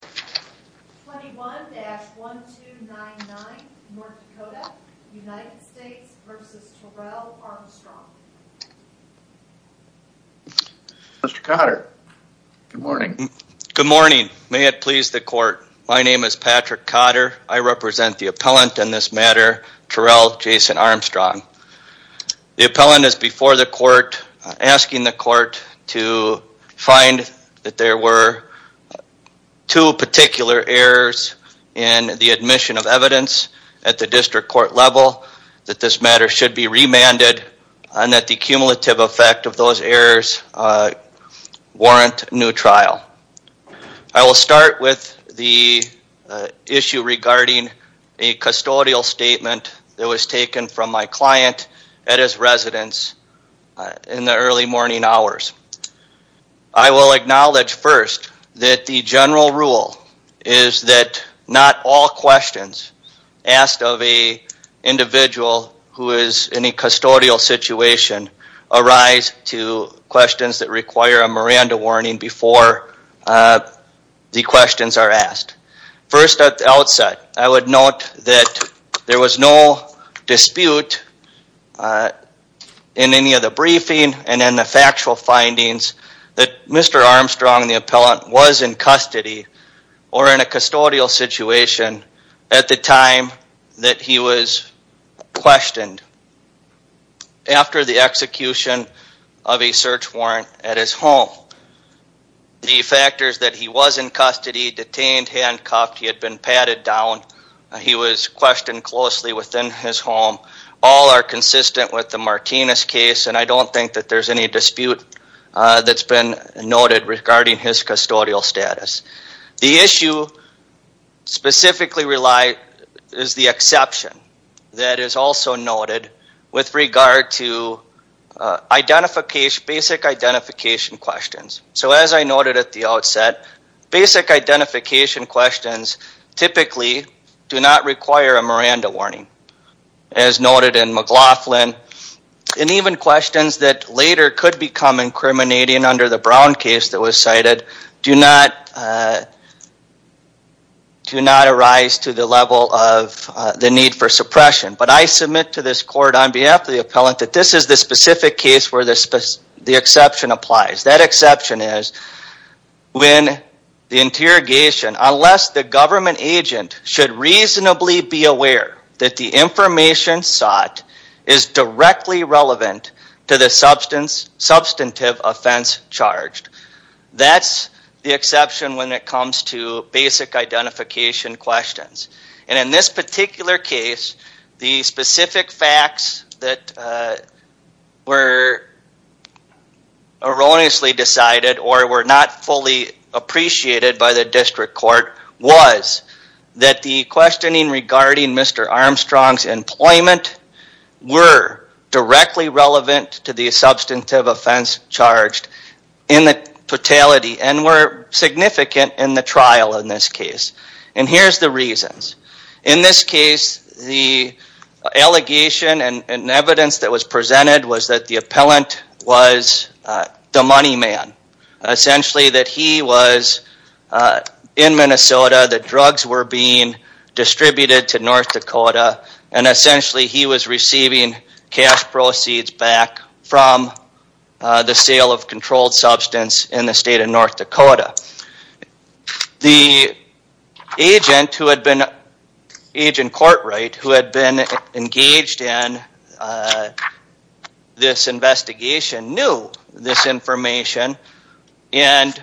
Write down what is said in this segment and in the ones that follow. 21-1299 North Dakota. United States v. Terrell Armstrong. Mr. Cotter. Good morning. Good morning. May it please the court. My name is Patrick Cotter. I represent the appellant in this matter, Terrell Jason Armstrong. The appellant is before the court asking the court to find that there were two particular errors in the admission of evidence at the district court level that this matter should be remanded and that the cumulative effect of those errors warrant new trial. I will start with the issue regarding a custodial statement that was taken from my client at his residence in the early morning hours. I will acknowledge first that the general rule is that not all questions asked of an individual who is in a custodial situation arise to questions that require a Miranda warning before the questions are asked. First at the outset, I would note that there was no dispute in any of the briefing and in the factual findings that Mr. Armstrong, the appellant, was in custody or in a custodial situation at the time that he was questioned after the execution of a search warrant at his home. The factors that he was in custody, detained, handcuffed, he had been patted down, he was questioned closely within his home, all are consistent with the Martinez case and I don't think that there's any dispute that's been noted regarding his custodial status. The issue specifically is the exception that is also noted with regard to identification, basic identification questions. So as I noted at the outset, basic identification questions typically do not require a Miranda warning as noted in McLaughlin and even questions that later could become incriminating under the Brown case that was cited do not arise to the level of the need for suppression. But I submit to this court on behalf of the appellant that this is the specific case where the exception applies. That exception is when the interrogation, unless the government agent should reasonably be aware that the information sought is directly relevant to the substantive offense charged, that's the exception when it comes to basic identification questions. And in this particular case, the specific facts that were erroneously decided or were not fully appreciated by the district court was that the questioning regarding Mr. Armstrong's employment were directly relevant to the substantive offense charged in the fatality and were significant in the trial in this case. And here's the reasons. In this case, the allegation and evidence that was presented was that the appellant was the money man. Essentially that he was in Minnesota, the drugs were being distributed to North Dakota, and essentially he was receiving cash proceeds back from the sale of controlled substance in the state of North Dakota. The agent who had been engaged in this investigation knew this information, and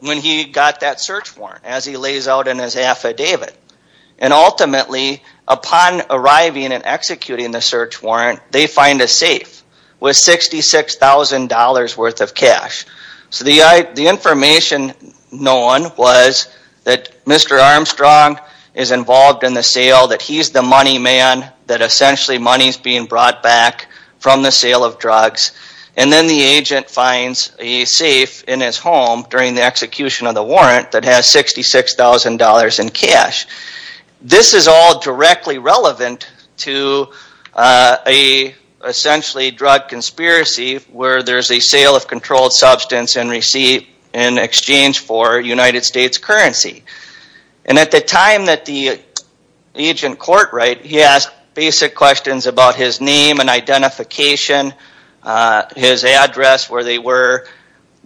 when he got that search warrant, as he lays out in his affidavit, and ultimately upon arriving and executing the search warrant, they find a safe with $66,000 worth of cash. So the information known was that Mr. Armstrong is involved in the sale, that he's the money man, that essentially money's being brought back from the sale of drugs, and then the agent finds a safe in his home during the execution of the warrant that has $66,000 in cash. This is all directly relevant to a essentially drug conspiracy where there's a sale of controlled substance in exchange for United States currency. And at the time that the agent court right, he asked basic questions about his name and identification, his address, where they were.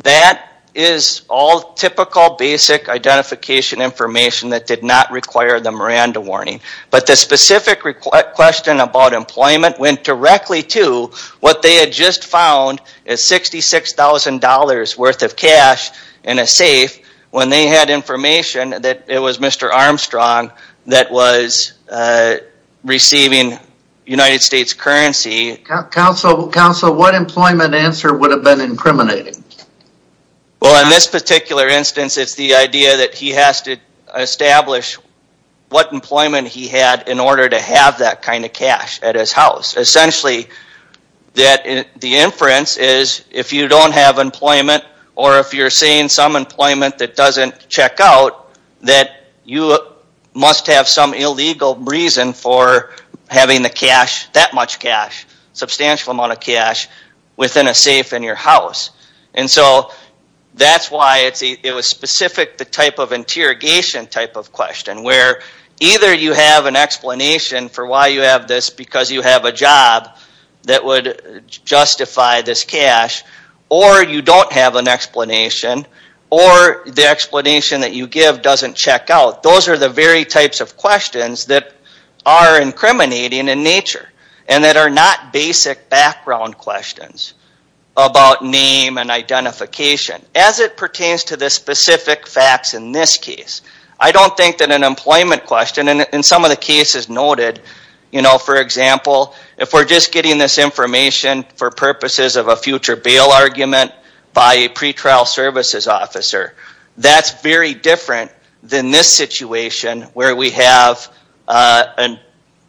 That is all typical basic identification information that did not require the Miranda warning. But the specific question about employment went directly to what they had just found is $66,000 worth of cash in a safe when they had information that it was Mr. Armstrong that was receiving United States currency. Counsel, what employment answer would have been incriminating? Well, in this particular instance, it's the idea that he has to establish what employment he had in order to have that kind of cash at his house. And so that's why it was specific the type of interrogation type of question where either you have an explanation for why you have this because you have a job that would justify this cash, or you don't have an explanation, or the explanation that you give doesn't check out. Those are the very types of questions that are incriminating in nature and that are not basic background questions about name and identification as it pertains to the specific facts in this case. I don't think that an employment question, and in some of the cases noted, you know, for example, if we're just getting this information for purposes of a future bail argument by a pretrial services officer, that's very different than this situation where we have an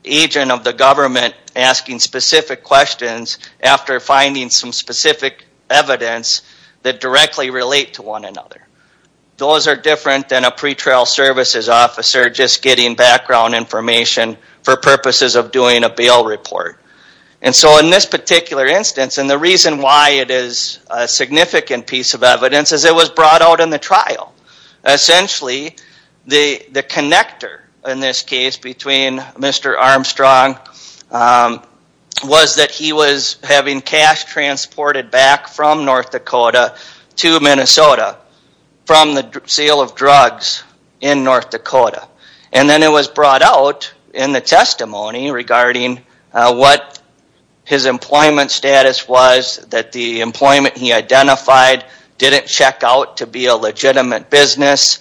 agent of the government asking specific questions after finding some specific evidence that directly relate to one another. Those are different than a pretrial services officer just getting background information for purposes of doing a bail report. And so in this particular instance, and the reason why it is a significant piece of evidence, is it was brought out in the trial. Essentially, the connector in this case between Mr. Armstrong was that he was having cash transported back from North Dakota to Minnesota from the sale of drugs in North Dakota. And then it was brought out in the testimony regarding what his employment status was, that the employment he identified didn't check out to be a legitimate business,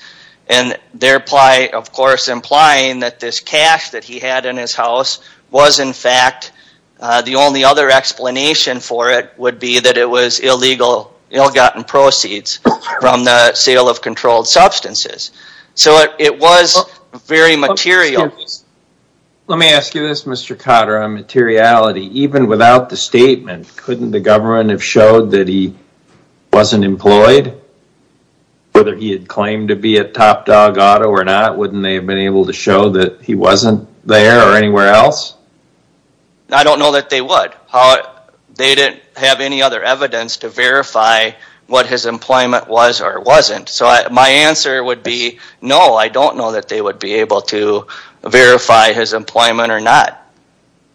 and thereby, of course, implying that this cash that he had in his house was in fact, the only other explanation for it would be that it was illegal, ill-gotten proceeds from the sale of controlled substances. So it was very material. Let me ask you this, Mr. Cotter, on materiality, even without the statement, couldn't the government have showed that he wasn't employed? Whether he had claimed to be at Top Dog Auto or not, wouldn't they have been able to show that he wasn't there or anywhere else? I don't know that they would. They didn't have any other evidence to verify what his employment was or wasn't. So my answer would be, no, I don't know that they would be able to verify his employment or not.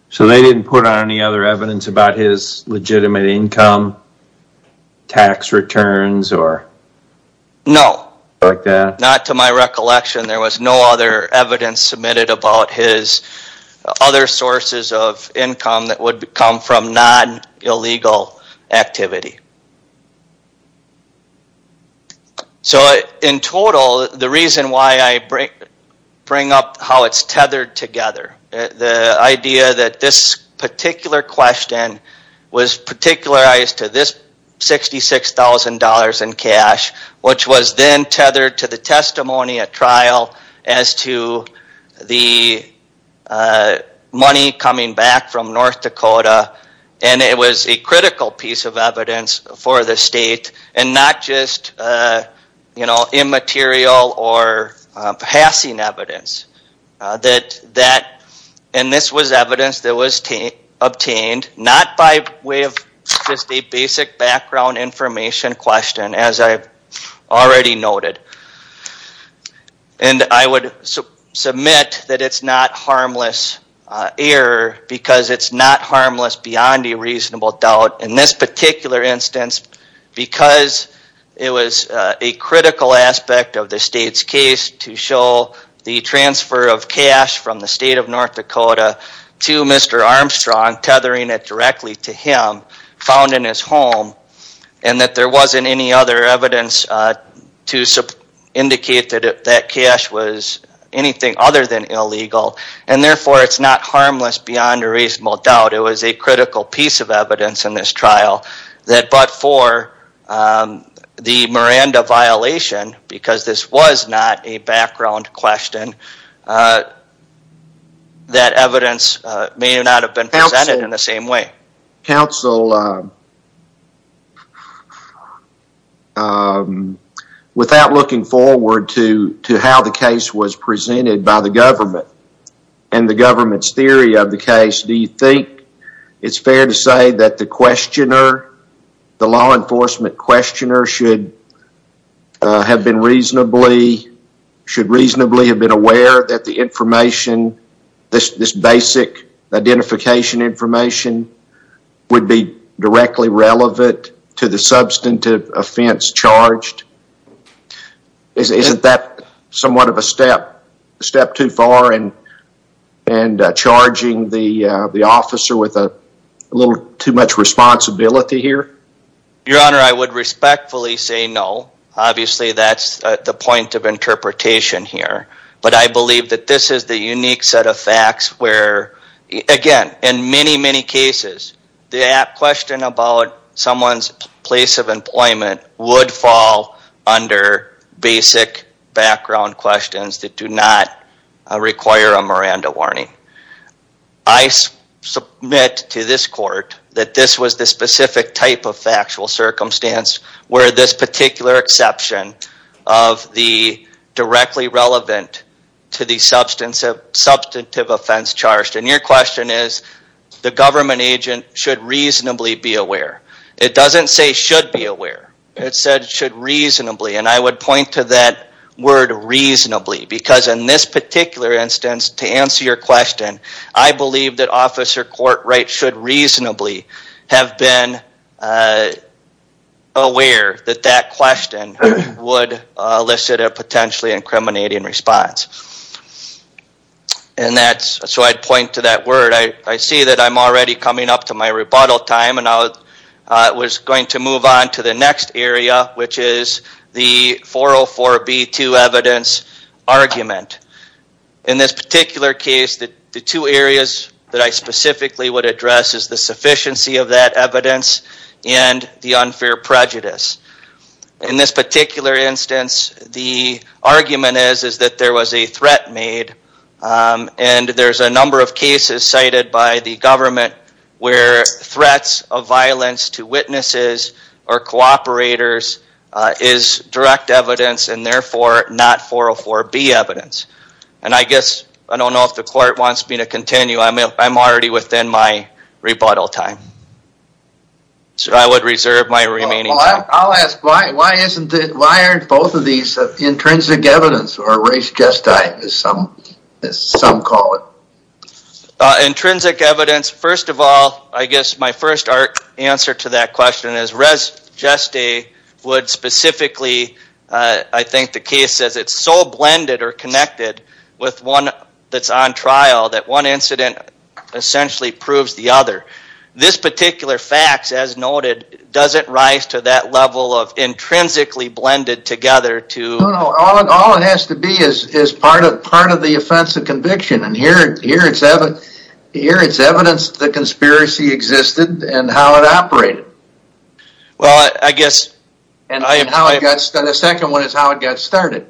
So they didn't put on any other evidence about his legitimate income, tax returns, or anything like that? No, not to my recollection. There was no other evidence submitted about his other sources of income that would come from non-illegal activity. So in total, the reason why I bring up how it's tethered together, the idea that this particular question was particularized to this $66,000 in cash, which was then tethered to the testimony at trial as to the money coming back from North Dakota, and it was a critical piece of evidence for the state, and not just immaterial or passing evidence. And this was evidence that was obtained not by way of just a basic background information question, as I've already noted. And I would submit that it's not harmless error because it's not harmless beyond a reasonable doubt in this particular instance because it was a critical aspect of the state's case to show the transfer of cash from the state of North Dakota to Mr. Armstrong, tethering it directly to him, found in his home, and that there wasn't any other evidence to support that. And therefore, it's not harmless beyond a reasonable doubt. It was a critical piece of evidence in this trial that, but for the Miranda violation, because this was not a background question, that evidence may not have been presented in the same way. Counsel, without looking forward to how the case was presented by the government and the government's theory of the case, do you think it's fair to say that the questioner, the law enforcement questioner, should reasonably have been aware that the information, this basic identification information, would be directly relevant to the substantive offense charged? Isn't that somewhat of a step too far in charging the officer with a little too much responsibility here? Your Honor, I would respectfully say no. Obviously, that's the point of interpretation here. But I believe that this is the unique set of facts where, again, in many, many cases, the question about someone's place of employment would fall under basic background questions that do not require a Miranda warning. I submit to this court that this was the specific type of factual circumstance where this particular exception of the directly relevant to the substantive offense charged. And your question is, the government agent should reasonably be aware. It doesn't say should be aware. It said should reasonably. And I would point to that word reasonably, because in this particular instance, to answer your question, I believe that Officer Courtright should reasonably have been aware that that question would elicit a potentially incriminating response. So I'd point to that word. I see that I'm already coming up to my rebuttal time, and I was going to move on to the next area, which is the 404B2 evidence argument. In this particular case, the two areas that I specifically would address is the sufficiency of that evidence and the unfair prejudice. In this particular instance, the argument is that there was a threat made, and there's a number of cases cited by the government where threats of violence to witnesses or cooperators is direct evidence and therefore not 404B evidence. And I guess, I don't know if the court wants me to continue. I'm already within my rebuttal time. So I would reserve my remaining time. I'll ask, why aren't both of these intrinsic evidence or res gestae, as some call it? Intrinsic evidence, first of all, I guess my first answer to that question is res gestae would specifically, I think the case says it's so blended or connected with one that's on trial that one incident essentially proves the other. This particular fact, as noted, doesn't rise to that level of intrinsically blended together to... Here it's evidence the conspiracy existed and how it operated. Well, I guess... And the second one is how it got started.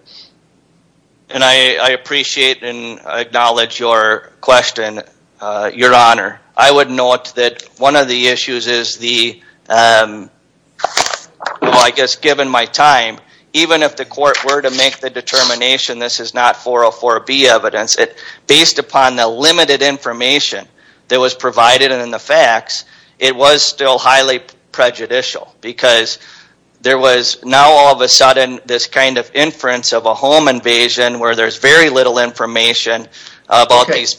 And I appreciate and acknowledge your question, Your Honor. I would note that one of the issues is the, I guess, given my time, even if the court were to make the determination, this is not 404B evidence. Based upon the limited information that was provided and in the facts, it was still highly prejudicial because there was now all of a sudden this kind of inference of a home invasion where there's very little information about these...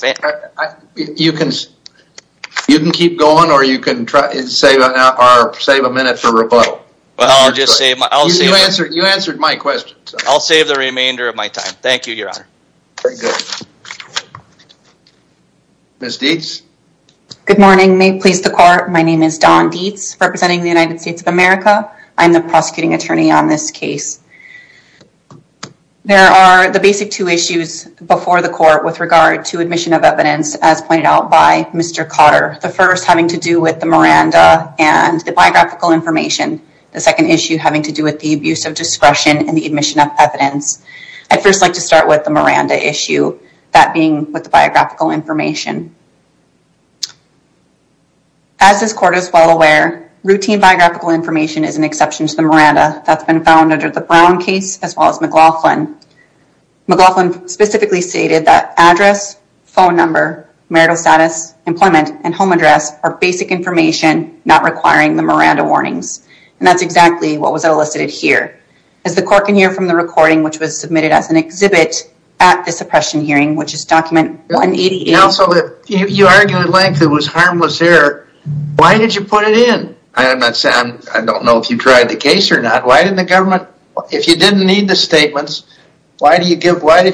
You can keep going or you can try and save a minute for rebuttal. Well, I'll just say... You answered my question. I'll save the remainder of my time. Thank you, Your Honor. Very good. Ms. Dietz? Good morning. May it please the court, my name is Dawn Dietz, representing the United States of America. I'm the prosecuting attorney on this case. There are the basic two issues before the court with regard to admission of evidence, as pointed out by Mr. Cotter. The first having to do with the Miranda and the biographical information. The second issue having to do with the abuse of discretion and the admission of evidence. I'd first like to start with the Miranda issue, that being with the biographical information. As this court is well aware, routine biographical information is an exception to the Miranda. That's been found under the Brown case as well as McLaughlin. McLaughlin specifically stated that address, phone number, marital status, employment, and home address are basic information not requiring the Miranda warnings. And that's exactly what was elicited here. As the court can hear from the recording, which was submitted as an exhibit at the suppression hearing, which is document 188... And also you argued at length it was harmless error. Why did you put it in? I don't know if you tried the case or not. If you didn't need the statements, why did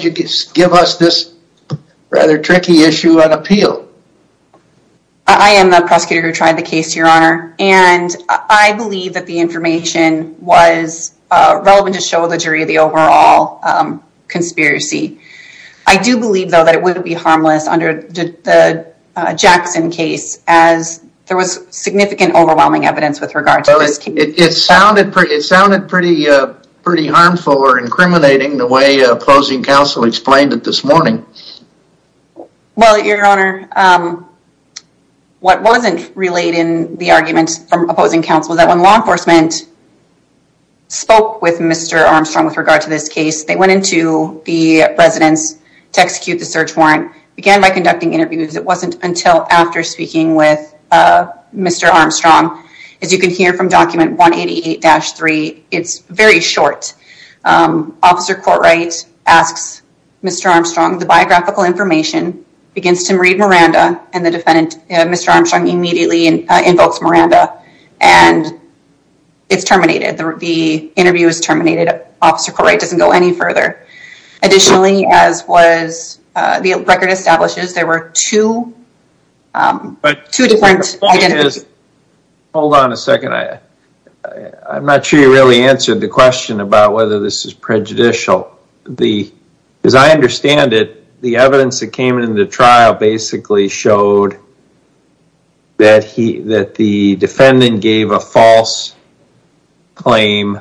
you give us this rather tricky issue on appeal? I am the prosecutor who tried the case, Your Honor. And I believe that the information was relevant to show the jury the overall conspiracy. I do believe, though, that it would be harmless under the Jackson case as there was significant overwhelming evidence with regard to this case. It sounded pretty harmful or incriminating the way opposing counsel explained it this morning. Well, Your Honor, what wasn't relayed in the arguments from opposing counsel was that when law enforcement spoke with Mr. Armstrong with regard to this case, they went into the residence to execute the search warrant, began by conducting interviews. It wasn't until after speaking with Mr. Armstrong. As you can hear from document 188-3, it's very short. Officer Courtright asks Mr. Armstrong the biographical information, begins to read Miranda, and Mr. Armstrong immediately invokes Miranda, and it's terminated. The interview is terminated. Officer Courtright doesn't go any further. Additionally, as the record establishes, there were two different identities. Hold on a second. I'm not sure you really answered the question about whether this is prejudicial. As I understand it, the evidence that came in the trial basically showed that the defendant gave a false claim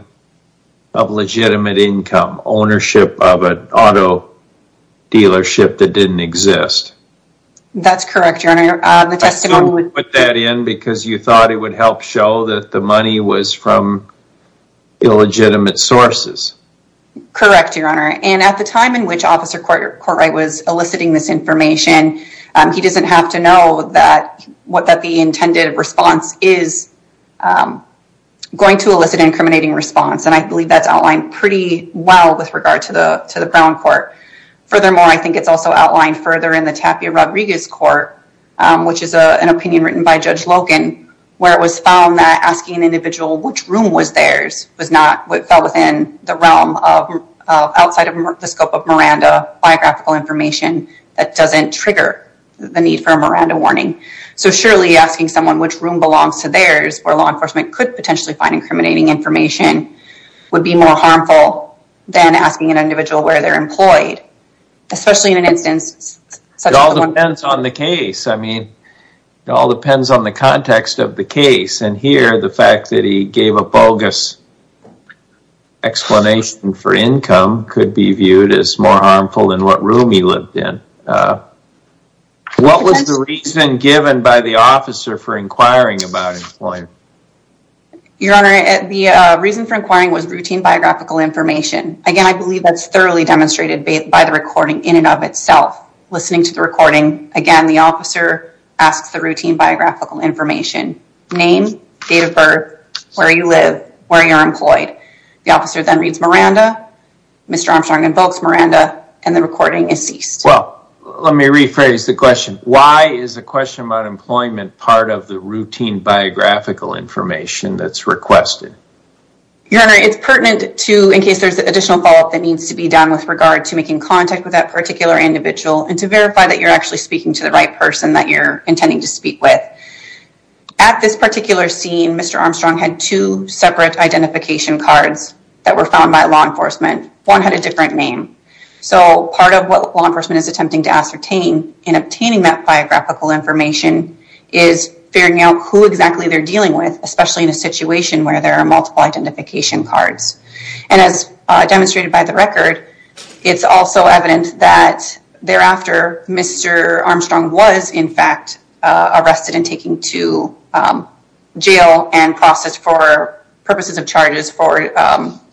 of legitimate income, ownership of an auto dealership that didn't exist. That's correct, Your Honor. You put that in because you thought it would help show that the money was from illegitimate sources. Correct, Your Honor. At the time in which Officer Courtright was eliciting this information, he doesn't have to know that the intended response is going to elicit an incriminating response, and I believe that's outlined pretty well with regard to the Brown Court. Furthermore, I think it's also outlined further in the Tapia-Rodriguez Court, which is an opinion written by Judge Logan, where it was found that asking an individual which room was theirs was not what fell within the realm of outside of the scope of Miranda, biographical information that doesn't trigger the need for a Miranda warning. So surely asking someone which room belongs to theirs, where law enforcement could potentially find incriminating information, would be more harmful than asking an individual where they're employed, especially in an instance such as the one- It all depends on the case. I mean, it all depends on the context of the case, and here the fact that he gave a bogus explanation for income could be viewed as more harmful than what room he lived in. What was the reason given by the officer for inquiring about employment? Your Honor, the reason for inquiring was routine biographical information. Again, I believe that's thoroughly demonstrated by the recording in and of itself. Listening to the recording, again, the officer asks the routine biographical information. Name, date of birth, where you live, where you're employed. The officer then reads Miranda, Mr. Armstrong invokes Miranda, and the recording is ceased. Well, let me rephrase the question. Why is the question about employment part of the routine biographical information that's requested? Your Honor, it's pertinent to, in case there's additional follow-up that needs to be done with regard to making contact with that particular individual, and to verify that you're actually speaking to the right person that you're intending to speak with. At this particular scene, Mr. Armstrong had two separate identification cards that were found by law enforcement. One had a different name. So part of what law enforcement is attempting to ascertain in obtaining that biographical information is figuring out who exactly they're dealing with, especially in a situation where there are multiple identification cards. And as demonstrated by the record, it's also evident that thereafter, Mr. Armstrong was, in fact, arrested and taken to jail and processed for purposes of charges for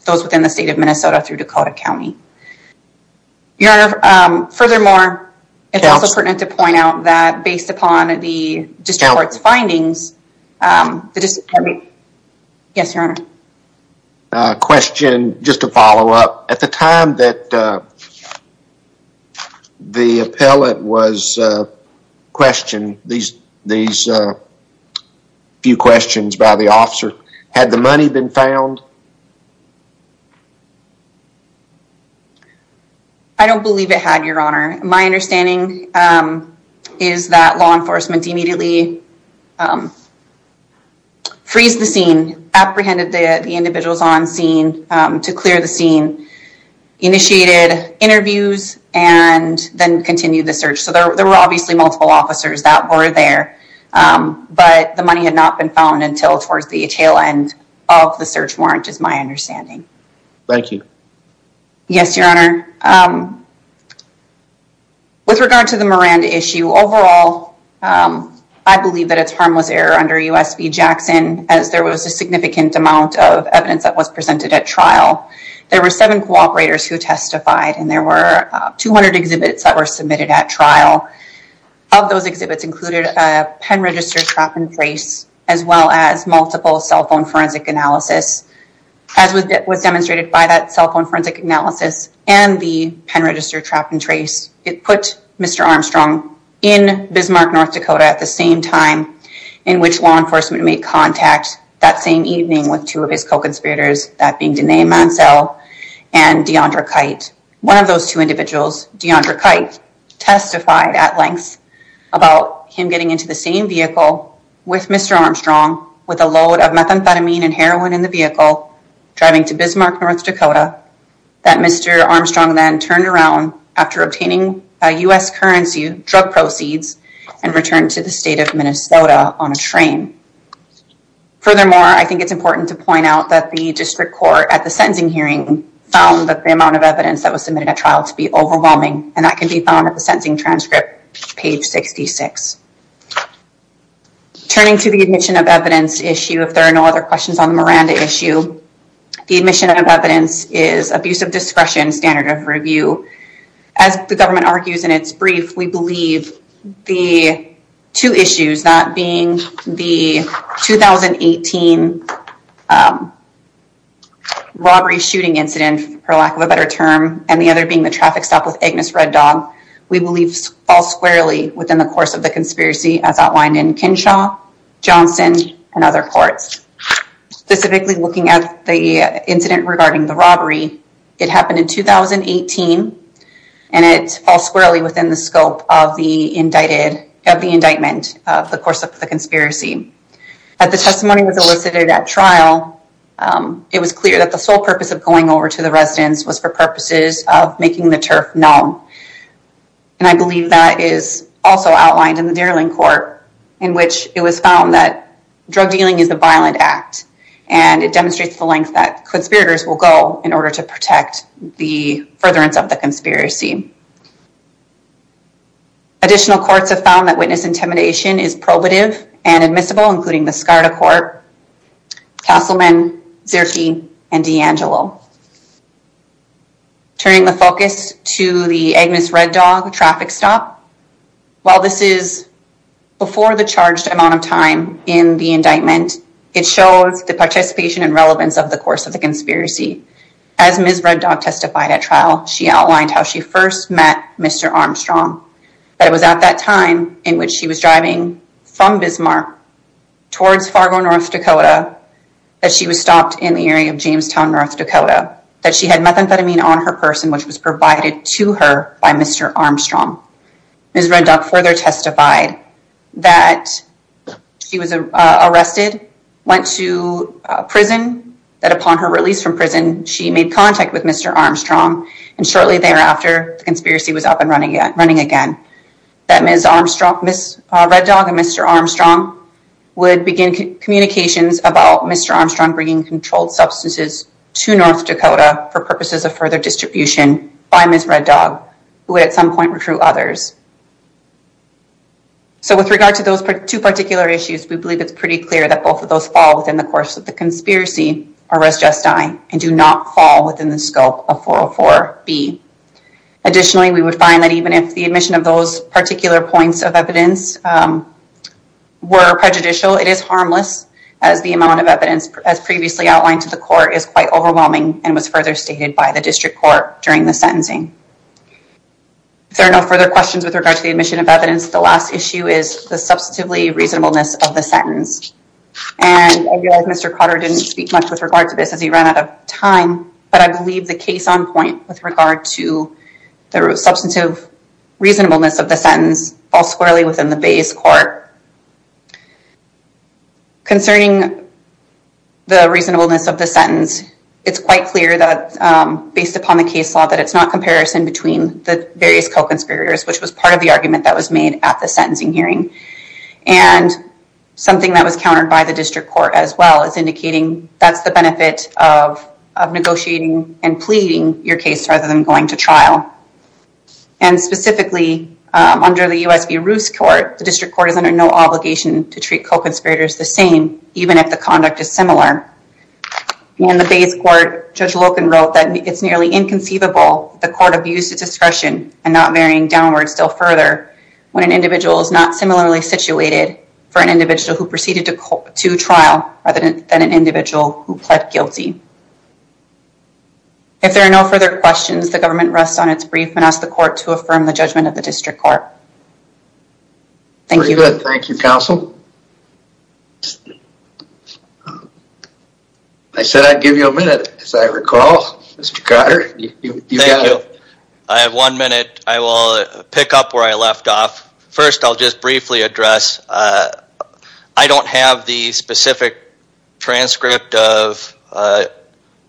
those within the state of Minnesota through Dakota County. Your Honor, furthermore, it's also pertinent to point out that, based upon the district court's findings, the district... Yes, Your Honor. Question, just to follow up. At the time that the appellate was questioned, these few questions by the officer, had the money been found? I don't believe it had, Your Honor. My understanding is that law enforcement immediately freezed the scene, apprehended the individuals on scene to clear the scene, initiated interviews, and then continued the search. So there were obviously multiple officers that were there, but the money had not been found until towards the tail end of the search warrant, is my understanding. Thank you. Yes, Your Honor. With regard to the Miranda issue, overall, I believe that it's harmless error under U.S. v. Jackson, as there was a significant amount of evidence that was presented at trial. There were seven cooperators who testified, and there were 200 exhibits that were submitted at trial. Of those exhibits included a pen-registered trap and brace, as well as multiple cell phone forensic analysis. As was demonstrated by that cell phone forensic analysis and the pen-registered trap and trace, it put Mr. Armstrong in Bismarck, North Dakota at the same time in which law enforcement made contact that same evening with two of his co-conspirators, that being Denae Mansell and Deandra Kite. One of those two individuals, Deandra Kite, testified at length about him getting into the same vehicle with Mr. Armstrong with a load of methamphetamine and heroin in the vehicle, driving to Bismarck, North Dakota, that Mr. Armstrong then turned around after obtaining U.S. currency drug proceeds and returned to the state of Minnesota on a train. Furthermore, I think it's important to point out that the district court at the sentencing hearing found that the amount of evidence that was submitted at trial to be overwhelming, and that can be found at the sentencing transcript, page 66. Turning to the admission of evidence issue, if there are no other questions on the Miranda issue, the admission of evidence is abuse of discretion, standard of review. As the government argues in its brief, we believe the two issues, that being the 2018 robbery shooting incident, for lack of a better term, and the other being the traffic stop with Agnes Red Dog, we believe fall squarely within the course of the conspiracy as outlined in Kinshaw, Johnson, and other courts. Specifically looking at the incident regarding the robbery, it happened in 2018, and it falls squarely within the scope of the indictment of the course of the conspiracy. As the testimony was elicited at trial, it was clear that the sole purpose of going over to the residence was for purposes of making the turf known. And I believe that is also outlined in the Dierling Court, in which it was found that drug dealing is a violent act, and it demonstrates the length that conspirators will go in order to protect the furtherance of the conspiracy. Additional courts have found that witness intimidation is probative and admissible, including the Skarda Court, Castleman, Zierke, and D'Angelo. Turning the focus to the Agnes Red Dog traffic stop, while this is before the charged amount of time in the indictment, it shows the participation and relevance of the course of the conspiracy. As Ms. Red Dog testified at trial, she outlined how she first met Mr. Armstrong, but it was at that time in which she was driving from Bismarck towards Fargo, North Dakota, that she was stopped in the area of Jamestown, North Dakota, that she had methamphetamine on her person, which was provided to her by Mr. Armstrong. Ms. Red Dog further testified that she was arrested, went to prison, that upon her release from prison, she made contact with Mr. Armstrong, and shortly thereafter, the conspiracy was up and running again. Ms. Red Dog and Mr. Armstrong would begin communications about Mr. Armstrong bringing controlled substances to North Dakota for purposes of further distribution by Ms. Red Dog, who would at some point recruit others. So with regard to those two particular issues, we believe it's pretty clear that both of those fall within the course of the conspiracy, and do not fall within the scope of 404-B. Additionally, we would find that even if the admission of those particular points of evidence were prejudicial, it is harmless, as the amount of evidence as previously outlined to the court is quite overwhelming and was further stated by the district court during the sentencing. If there are no further questions with regard to the admission of evidence, the last issue is the substantively reasonableness of the sentence. And I realize Mr. Cotter didn't speak much with regard to this as he ran out of time, but I believe the case on point with regard to the substantive reasonableness of the sentence falls squarely within the base court. Concerning the reasonableness of the sentence, it's quite clear that based upon the case law, that it's not comparison between the various co-conspirators, which was part of the argument that was made at the sentencing hearing. And something that was countered by the district court as well, is indicating that's the benefit of negotiating and pleading your case rather than going to trial. And specifically, under the U.S. v. Roos court, the district court is under no obligation to treat co-conspirators the same, even if the conduct is similar. In the base court, Judge Loken wrote that it's nearly inconceivable the court abused its discretion and not varying downwards still further when an individual is not similarly situated for an individual who proceeded to trial rather than an individual who pled guilty. If there are no further questions, the government rests on its brief and asks the court to affirm the judgment of the district court. Thank you. Thank you, counsel. I said I'd give you a minute, as I recall. Mr. Cotter, you've got it. Thank you. I have one minute. I will pick up where I left off. First, I'll just briefly address. I don't have the specific transcript of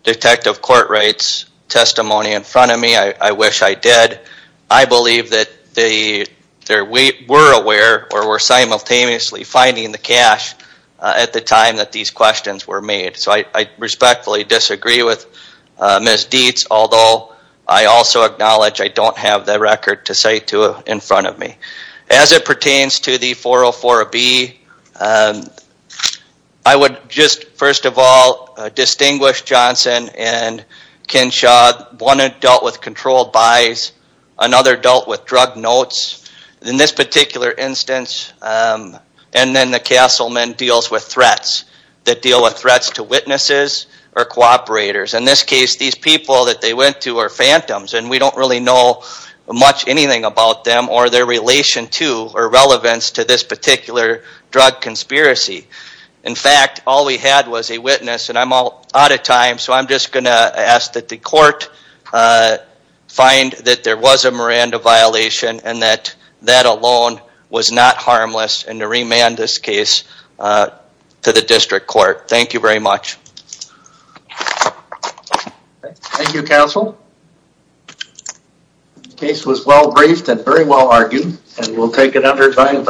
detective court rates testimony in front of me. I wish I did. I believe that they were aware or were simultaneously finding the cash at the time that these questions were made. So I respectfully disagree with Ms. Dietz, although I also acknowledge I don't have the record to cite to in front of me. As it pertains to the 404B, I would just, first of all, distinguish Johnson and Kinshaw. One dealt with controlled buys. Another dealt with drug notes. In this particular instance, and then the Castleman deals with threats that deal with threats to witnesses or cooperators. In this case, these people that they went to are phantoms, and we don't really know much anything about them or their relation to or relevance to this particular drug conspiracy. In fact, all we had was a witness, and I'm out of time, so I'm just going to ask that the court find that there was a Miranda violation and that that alone was not harmless and to remand this case to the district court. Thank you very much. Thank you, counsel. The case was well briefed and very well argued, and we'll take it under time.